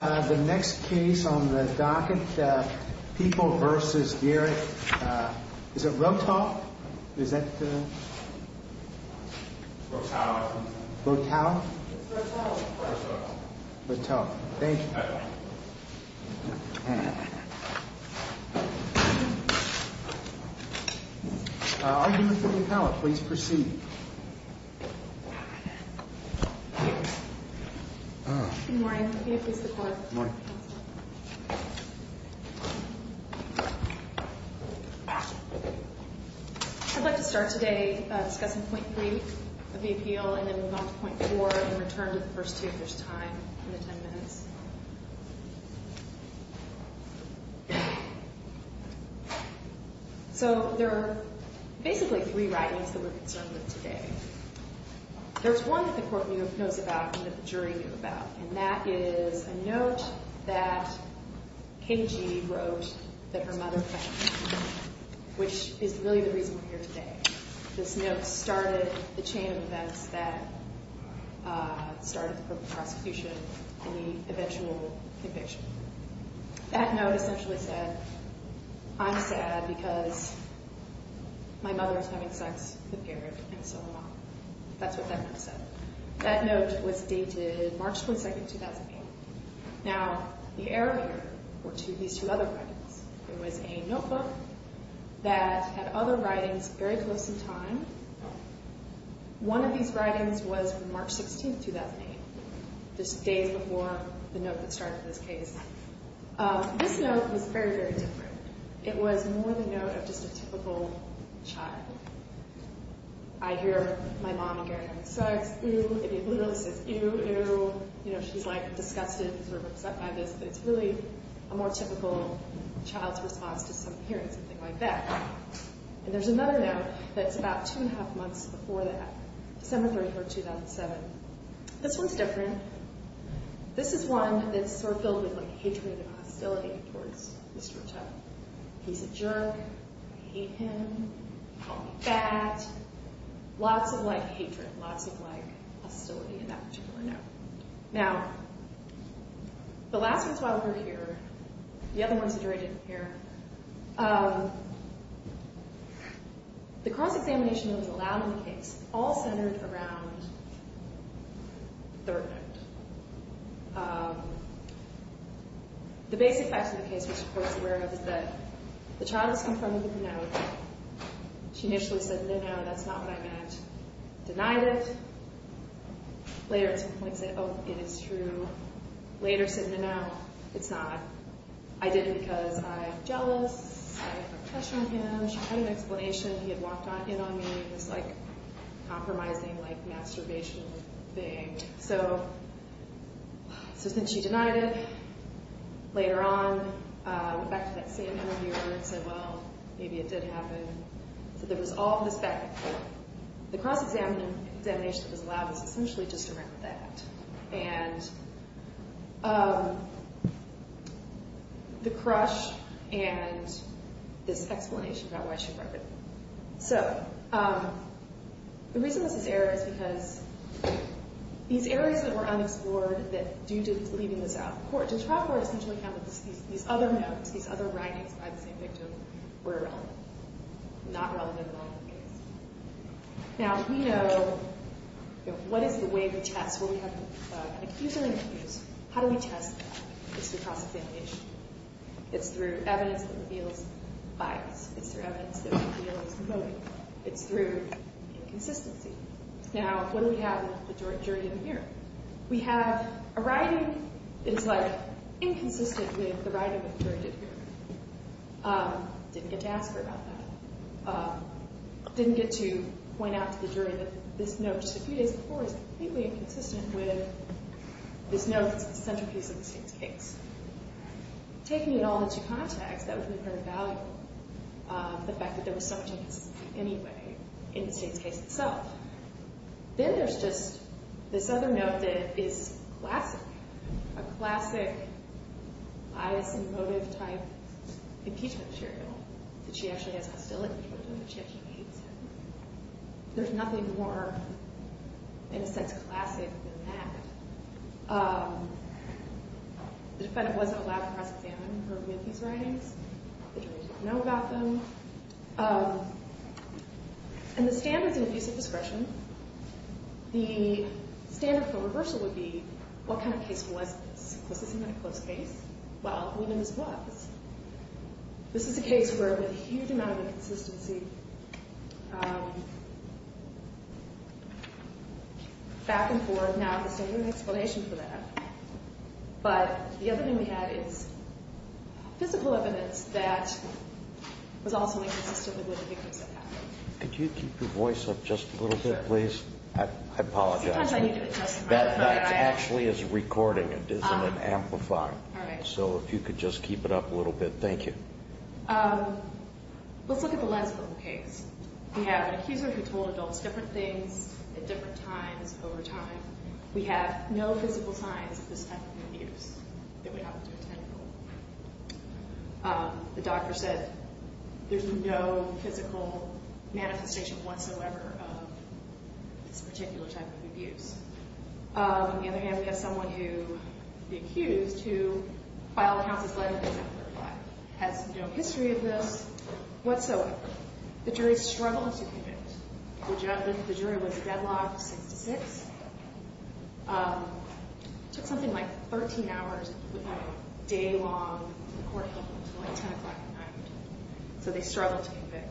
The next case on the docket, People v. Garrett, is it Rottau? Rottau? It's Rottau. Rottau. Rottau. Thank you. I'm going to start today discussing point three of the appeal and then move on to point four and return to the first two if there's time in the ten minutes. So there are basically three writings that we're concerned with today. There's one that the court knows about and that the jury knew about, and that is a note that Kim Jee wrote that her mother found, which is really the reason we're here today. This note started the chain of events that started the prosecution in the eventual conviction. That note essentially said, I'm sad because my mother is having sex with Garrett and so am I. That's what that note said. That note was dated March 22, 2008. Now, the error here were these two other writings. It was a notebook that had other writings very close in time. One of these writings was from March 16, 2008, just days before the note that started this case. This note was very, very different. It was more the note of just a typical child. I hear my mom and Garrett having sex. Ew. It literally says, ew, ew. You know, she's like disgusted and sort of upset by this, but it's really a more typical child's response to hearing something like that. There's another note that's about two and a half months before that, December 3, 2007. This one's different. This is one that's sort of filled with hatred and hostility towards Mr. Tuttle. He's a jerk. I hate him. Call me fat. Lots of hatred, lots of hostility in that particular note. Now, the last ones while we're here, the other ones that are in here, the cross-examination that was allowed in the case all centered around the third note. The basic facts of the case, which the court's aware of, is that the child is confirming the note. She initially said, no, no, that's not what I meant. Denied it. Later at some point said, oh, it is true. Later said, no, no, it's not. I did it because I'm jealous. I have a crush on him. She had an explanation. He had walked in on me, this compromising masturbation thing. So since she denied it, later on went back to that same interview and said, well, maybe it did happen. So there was all of this back and forth. The cross-examination that was allowed was essentially just around that. And the crush and this explanation about why she broke it. So the reason this is error is because these areas that were unexplored due to leaving this out of court, the trial court essentially found that these other notes, these other writings by the same victim were irrelevant, not relevant at all in the case. Now, we know what is the way to test. When we have an accuser in a case, how do we test that? It's through cross-examination. It's through evidence that reveals bias. It's through evidence that reveals motive. It's through inconsistency. Now, what do we have with the jury did the hearing? We have a writing that is inconsistent with the writing that the jury did the hearing. Didn't get to ask her about that. Didn't get to point out to the jury that this note just a few days before is completely inconsistent with this note that's the centerpiece of the state's case. Taking it all into context, that would be very valuable, the fact that there was so much inconsistency anyway in the state's case itself. Then there's just this other note that is classic, a classic bias and motive type impeachment material that she actually has hostility toward and that she actually hates him. There's nothing more, in a sense, classic than that. The defendant wasn't allowed to cross-examine her with these writings. The jury didn't know about them. And the standards of abuse of discretion, the standard for reversal would be, what kind of case was this? Was this a close case? Well, we know this was. This is a case where there's a huge amount of inconsistency back and forth. So now there's a new explanation for that. But the other thing we have is physical evidence that was also inconsistent with the victims that happened. Could you keep your voice up just a little bit, please? I apologize. Sometimes I need to adjust my microphone. That actually is recording. It isn't an amplifier. All right. So if you could just keep it up a little bit, thank you. Let's look at the lens of the case. We have an accuser who told adults different things at different times over time. We have no physical signs of this type of abuse that would happen to a tentacle. The doctor said there's no physical manifestation whatsoever of this particular type of abuse. On the other hand, we have someone who, the accused, who filed the house's letter December 5th. Has no history of this whatsoever. The jury struggled to convict. The jury was deadlocked 6-6. Took something like 13 hours, a day long. The court held them until like 10 o'clock at night. So they struggled to convict.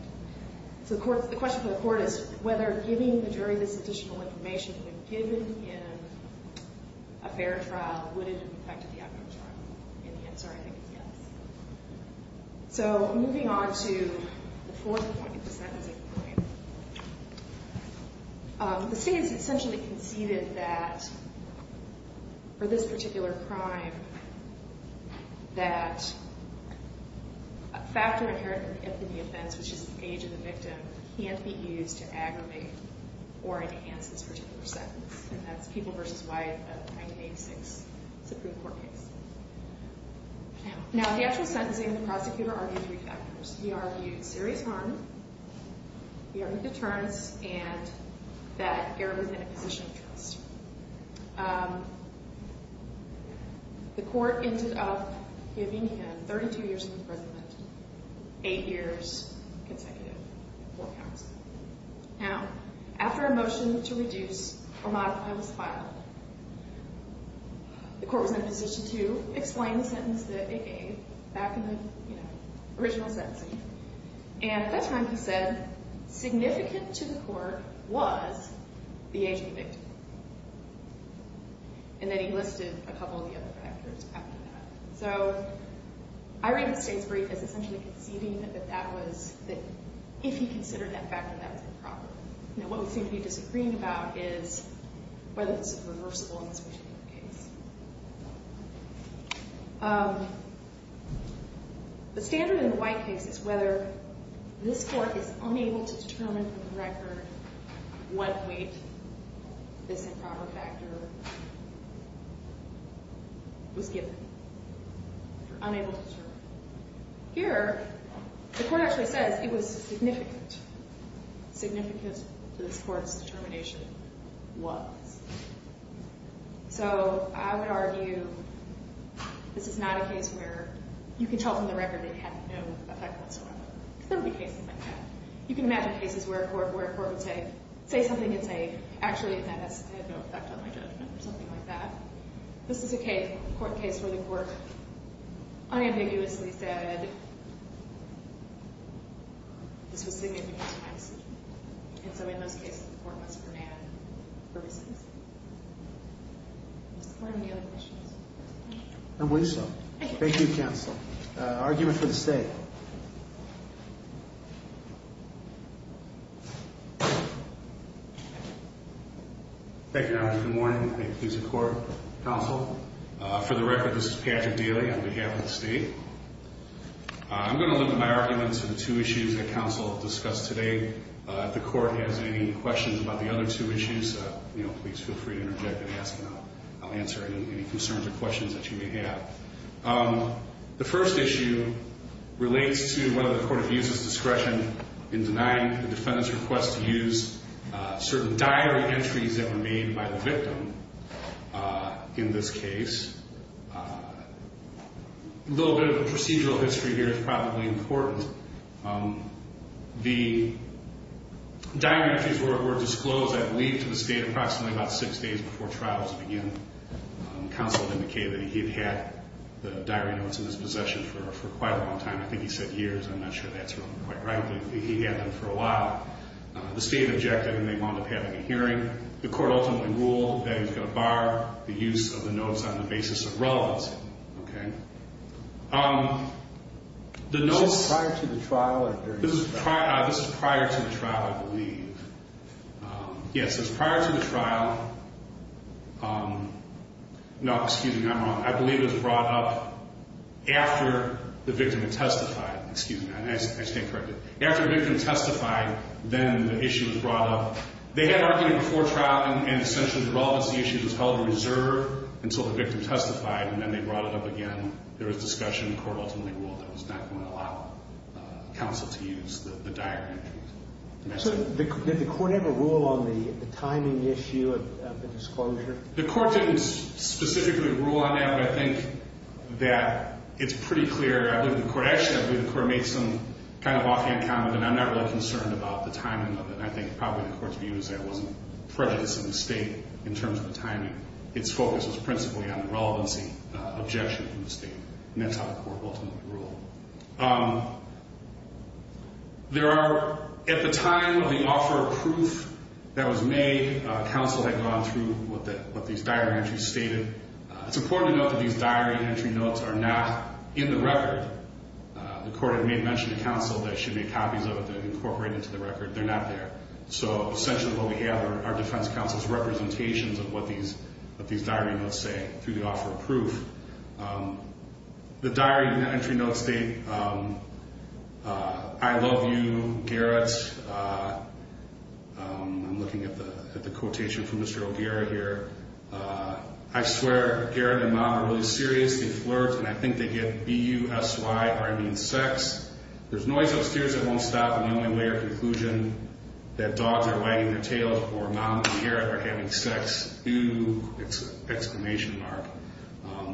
So the question for the court is whether giving the jury this additional information, if given in a fair trial, would it have affected the outcome trial? And the answer, I think, is yes. So moving on to the fourth point, the sentencing point. The state has essentially conceded that for this particular crime, that a factor inherent in the offense, which is the age of the victim, can't be used to aggravate or enhance this particular sentence. And that's People v. Wyeth of 1986 Supreme Court case. Now, the actual sentencing, the prosecutor argued three factors. He argued serious harm, he argued deterrence, and that error within a position of trust. The court ended up giving him, 32 years in prison, 8 years consecutive for counsel. Now, after a motion to reduce or modify this file, the court was in a position to explain the sentence that it gave back in the original sentencing. And at that time he said, significant to the court was the age of the victim. And then he listed a couple of the other factors after that. So, I read the state's brief as essentially conceding that that was, that if he considered that factor, that was improper. Now, what we seem to be disagreeing about is whether this is reversible in this particular case. The standard in the Wyeth case is whether this court is unable to determine from the record what weight this improper factor was given. Unable to determine. Here, the court actually says it was significant. Significant to this court's determination was. So, I would argue this is not a case where you can tell from the record it had no effect whatsoever. There would be cases like that. You can imagine cases where a court would say, say something and say, actually it had no effect on my judgment or something like that. This is a court case where the court unambiguously said this was significant to my decision. And so, in those cases, the court must demand purposes. I believe so. Thank you, counsel. Argument for the state. Thank you, Your Honor. Good morning. Thank you to the court. Counsel. For the record, this is Patrick Daly on behalf of the state. I'm going to look at my arguments for the two issues that counsel discussed today. If the court has any questions about the other two issues, please feel free to interject and ask, and I'll answer any concerns or questions that you may have. The first issue relates to whether the court has used its discretion in denying the defendant's request to use certain diary entries that were made by the victim in this case. A little bit of a procedural history here is probably important. The diary entries were disclosed, I believe, to the state approximately about six days before trials began. Counsel indicated that he had had the diary notes in his possession for quite a long time. I think he said years. I'm not sure that's quite right. But he had them for a while. The state objected, and they wound up having a hearing. The court ultimately ruled that he was going to bar the use of the notes on the basis of relevancy. This is prior to the trial? This is prior to the trial, I believe. Yes, it's prior to the trial. No, excuse me. I'm wrong. I believe it was brought up after the victim had testified. Excuse me. I stand corrected. After the victim testified, then the issue was brought up. They had argued before trial, and essentially the relevance of the issue was held in reserve until the victim testified, and then they brought it up again. There was discussion. The court ultimately ruled that it was not going to allow counsel to use the diary entries. Did the court ever rule on the timing issue of the disclosure? The court didn't specifically rule on that, but I think that it's pretty clear. I believe the court actually made some kind of offhand comment, and I'm not really concerned about the timing of it, and I think probably the court's view is that it wasn't prejudiced in the state in terms of the timing. Its focus was principally on the relevancy objection from the state, and that's how the court ultimately ruled. There are, at the time of the offer of proof that was made, counsel had gone through what these diary entries stated. It's important to note that these diary entry notes are not in the record. The court had made mention to counsel that it should be copies of it that are incorporated into the record. They're not there. So essentially what we have are our defense counsel's representations of what these diary notes say through the offer of proof. The diary entry notes state, I love you, Garrett. I'm looking at the quotation from Mr. O'Gara here. I swear Garrett and Mom are really serious. They flirt, and I think they get B-U-S-Y, or I mean sex. There's noise upstairs that won't stop, and the only way or conclusion that dogs are wagging their tails or Mom and Garrett are having sex. It's an exclamation mark.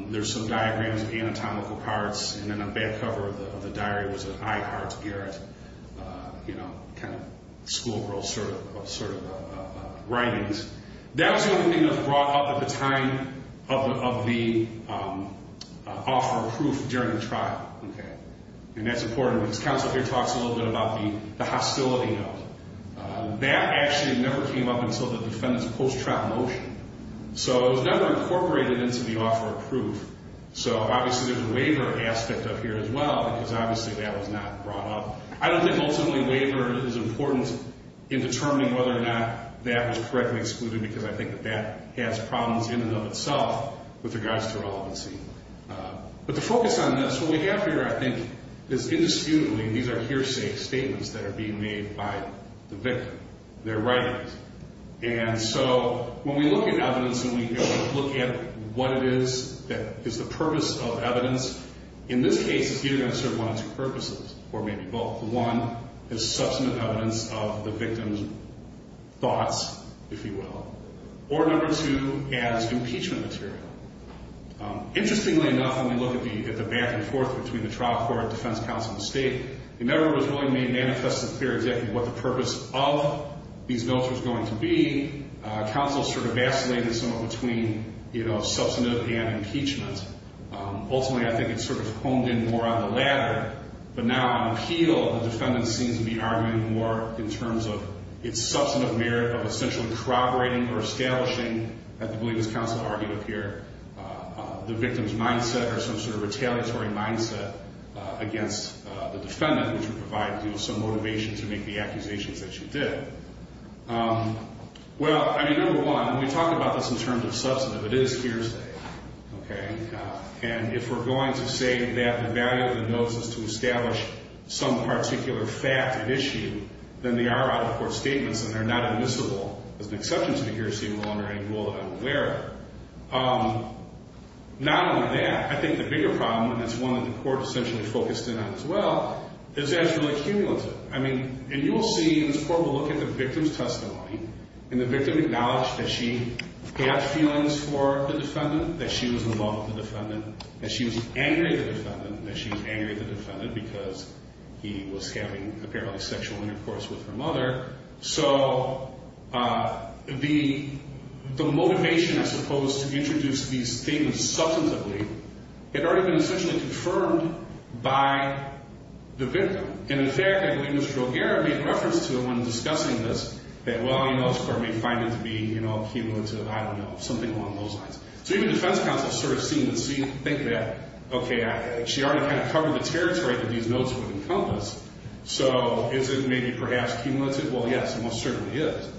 There's some diagrams of anatomical parts, and then on the back cover of the diary was an I heart Garrett, kind of schoolgirl sort of writings. That was the only thing that was brought up at the time of the offer of proof during the trial, and that's important because counsel here talks a little bit about the hostility note. That actually never came up until the defendant's post-trial motion, so it was never incorporated into the offer of proof. So obviously there's a waiver aspect up here as well because obviously that was not brought up. I don't think ultimately waiver is important in determining whether or not that was correctly excluded because I think that that has problems in and of itself with regards to relevancy. But the focus on this, what we have here I think is indisputably, these are hearsay statements that are being made by the victim, their writings. And so when we look at evidence and we look at what it is that is the purpose of evidence, in this case it's either going to serve one of two purposes, or maybe both. One is substantive evidence of the victim's thoughts, if you will, or number two as impeachment material. Interestingly enough, when we look at the back and forth between the trial court, defense counsel, and state, it never was really made manifest and clear exactly what the purpose of these notes was going to be. Counsel sort of vacillated somewhat between substantive and impeachment. Ultimately, I think it sort of honed in more on the latter. But now on appeal, the defendant seems to be arguing more in terms of its substantive merit of essentially corroborating or establishing, as I believe this counsel argued here, the victim's mindset or some sort of retaliatory mindset against the defendant, which would provide you with some motivation to make the accusations that you did. Well, I mean, number one, when we talk about this in terms of substantive, it is hearsay. And if we're going to say that the value of the notes is to establish some particular fact or issue, then they are out-of-court statements, and they're not admissible as an exception to the hearsay rule under any rule that I'm aware of. Not only that, I think the bigger problem, and it's one that the court essentially focused in on as well, is that it's really cumulative. I mean, and you will see, and this court will look at the victim's testimony, and the victim acknowledged that she had feelings for the defendant, that she was in love with the defendant, that she was angry at the defendant, and that she was angry at the defendant because he was having apparently sexual intercourse with her mother. So the motivation, I suppose, to introduce these things substantively, had already been essentially confirmed by the victim. And in fact, I believe Mr. O'Gara made reference to it when discussing this, that, well, you know, this court may find it to be, you know, cumulative, I don't know, something along those lines. So even defense counsels sort of seem to think that, okay, she already kind of covered the territory that these notes would encompass. So is it maybe perhaps cumulative? Well, yes, it most certainly is.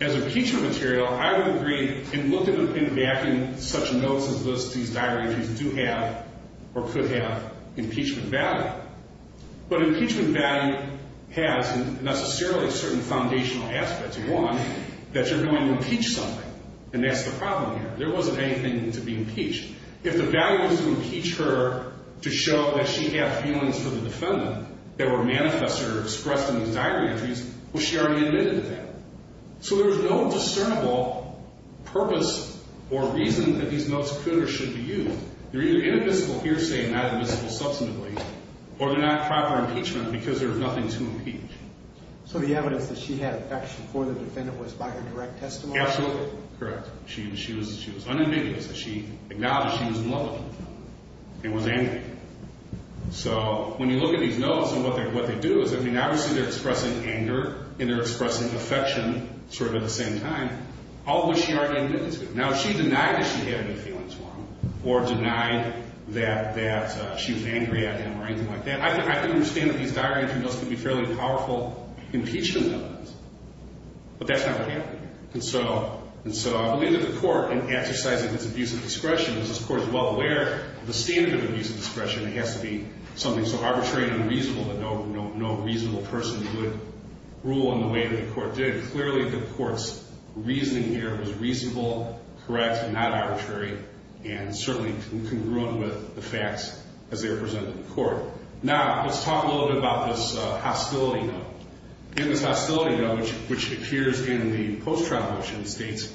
As impeachment material, I would agree, and look at it in backing such notes as this, these diaries do have or could have impeachment value. But impeachment value has necessarily certain foundational aspects. One, that you're going to impeach something, and that's the problem here. There wasn't anything to be impeached. If the value was to impeach her to show that she had feelings for the defendant that were manifest or expressed in these diary entries, well, she already admitted to that. So there's no discernible purpose or reason that these notes could or should be used. They're either inadmissible hearsay and not admissible substantively, or they're not proper impeachment because there's nothing to impeach. So the evidence that she had affection for the defendant was by her direct testimony? Absolutely correct. She was unambiguous. She acknowledged she was in love with him and was angry. So when you look at these notes and what they do is, I mean, obviously they're expressing anger and they're expressing affection sort of at the same time. All of which she already admitted to. Now, if she denied that she had any feelings for him or denied that she was angry at him or anything like that, I can understand that these diary entries can be fairly powerful impeachment evidence. But that's not what happened. And so I believe that the court, in exercising its abuse of discretion, because this court is well aware of the standard of abuse of discretion, it has to be something so arbitrary and unreasonable that no reasonable person would rule in the way that the court did. Clearly the court's reasoning here was reasonable, correct, not arbitrary, and certainly congruent with the facts as they were presented to the court. Now, let's talk a little bit about this hostility note. In this hostility note, which appears in the post-trial motion, it states,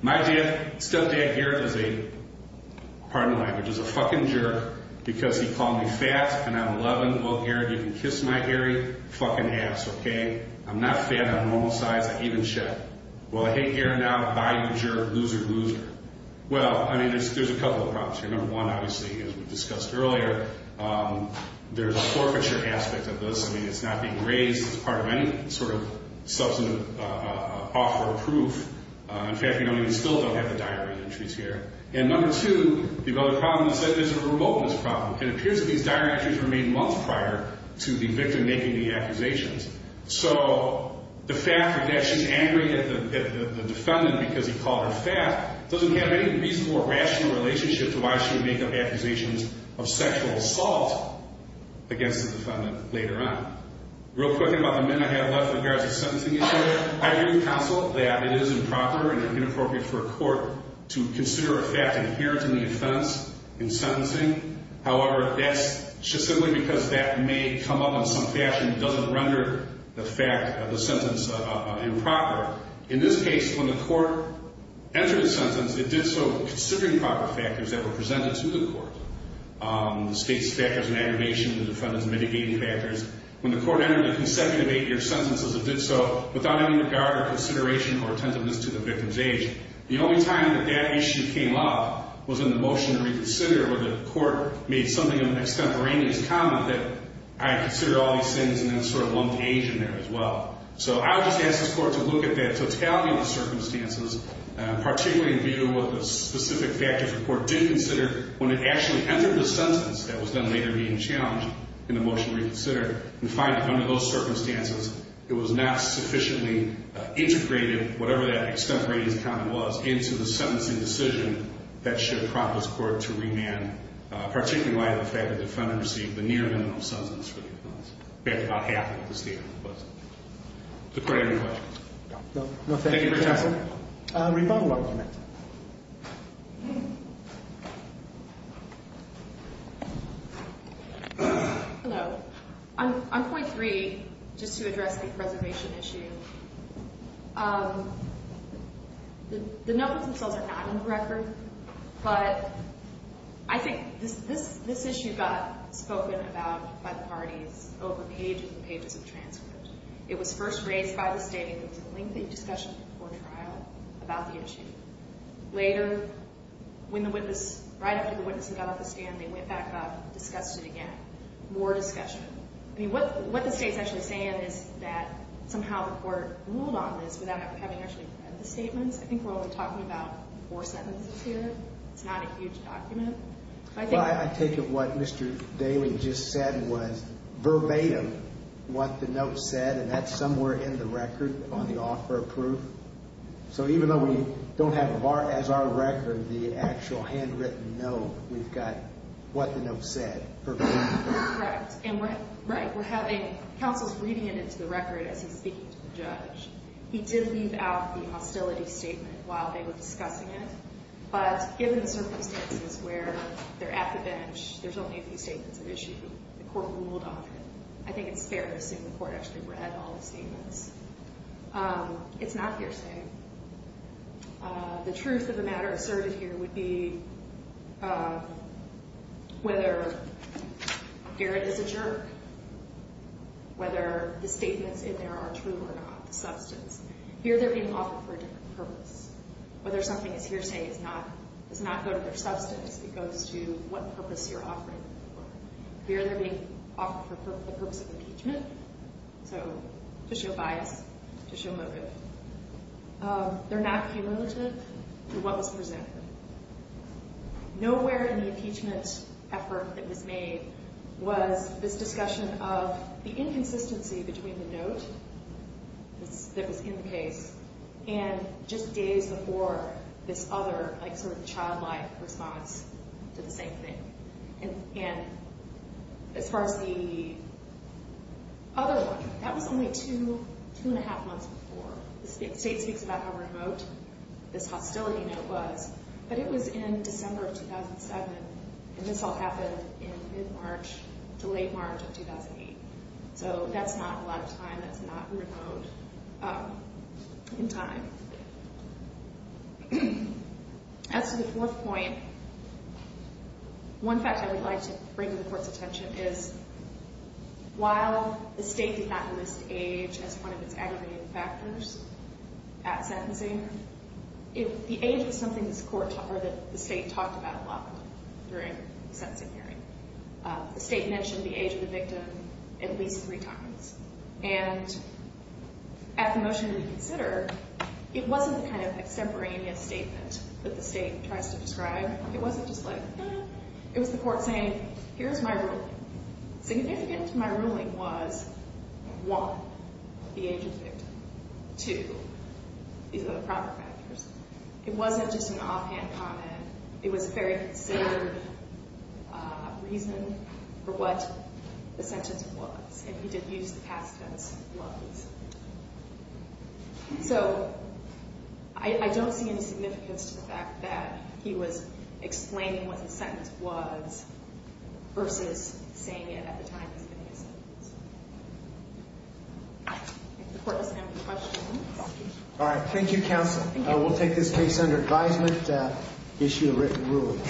my dead stepdad, Garrett, is a, pardon the language, is a fucking jerk because he called me fat and I'm 11. Well, Garrett, you can kiss my hairy fucking ass, okay? I'm not fat on all sides. I even shit. Well, I hate Garrett now. Bye, you jerk. Loser, loser. Well, I mean, there's a couple of problems here. Number one, obviously, as we discussed earlier, there's a forfeiture aspect of this. I mean, it's not being raised as part of any sort of substantive offer of proof. In fact, we don't even still have the diary entries here. And number two, the other problem is that there's a remoteness problem. It appears that these diary entries were made months prior to the victim making the accusations. So the fact that she's angry at the defendant because he called her fat doesn't have any reasonable or rational relationship to why she would make up accusations of sexual assault against the defendant later on. Real quickly about the men I have left with regards to sentencing issue, I do consult that it is improper and inappropriate for a court to consider a fact inherent in the offense in sentencing. However, that's just simply because that may come up in some fashion that doesn't render the fact of the sentence improper. In this case, when the court entered the sentence, it did so considering proper factors that were presented to the court, the state's factors of aggravation, the defendant's mitigating factors. When the court entered the consecutive eight-year sentences, it did so without any regard or consideration or attentiveness to the victim's age. The only time that that issue came up was in the motion to reconsider where the court made something of an extemporaneous comment that I considered all these things and then sort of lumped age in there as well. So I would just ask this court to look at that totality of the circumstances, particularly in view of what the specific factors the court did consider when it actually entered the sentence that was then later being challenged in the motion to reconsider, and find that under those circumstances, it was not sufficiently integrated, whatever that extemporaneous comment was, into the sentencing decision that should prompt this court to remand, particularly in light of the fact that the defendant received a near minimum sentence for the offense. In fact, about half of the state was. Does the court have any questions? No. Thank you for your time. Rebuttal argument. Hello. On point three, just to address the preservation issue, the notebooks themselves are not in the record, but I think this issue got spoken about by the parties over pages and pages of transcript. It was first raised by the state. There was a lengthy discussion before trial about the issue. Later, right after the witness got off the stand, they went back up and discussed it again. More discussion. What the state is actually saying is that somehow the court ruled on this without having actually read the statements. I think we're only talking about four sentences here. It's not a huge document. I take it what Mr. Daly just said was verbatim what the note said, and that's somewhere in the record on the offer of proof. So even though we don't have as our record the actual handwritten note, we've got what the note said verbatim. Correct. And right, we're having counsel reading it into the record as he's speaking to the judge. He did leave out the hostility statement while they were discussing it, but given the circumstances where they're at the bench, there's only a few statements of issue. The court ruled on it. I think it's fair to assume the court actually read all the statements. It's not hearsay. The truth of the matter asserted here would be whether Garrett is a jerk, whether the statements in there are true or not, the substance. Here they're being offered for a different purpose. Whether something is hearsay does not go to their substance. It goes to what purpose you're offering them for. Here they're being offered for the purpose of impeachment, so to show bias, to show motive. They're not cumulative to what was presented. Nowhere in the impeachment effort that was made was this discussion of the inconsistency between the note that was in the case and just days before this other sort of childlike response to the same thing. And as far as the other one, that was only two and a half months before. The state speaks about how remote this hostility note was, but it was in December of 2007, and this all happened in mid-March to late March of 2008. So that's not a lot of time. That's not remote in time. As to the fourth point, one fact I would like to bring to the court's attention is while the state did not list age as one of its aggravating factors at sentencing, the age was something that the state talked about a lot during the sentencing hearing. The state mentioned the age of the victim at least three times. And at the motion to reconsider, it wasn't the kind of extemporaneous statement that the state tries to describe. It was the court saying, here's my ruling. Significant to my ruling was, one, the age of the victim. Two, these are the proper factors. It wasn't just an offhand comment. It was a very considered reason for what the sentence was, and he did use the past tense, was. So I don't see any significance to the fact that he was explaining what the sentence was versus saying it at the time he was getting his sentence. I think the court has time for questions. All right. Thank you, counsel. Thank you. We'll take this case under advisement, issue a written ruling.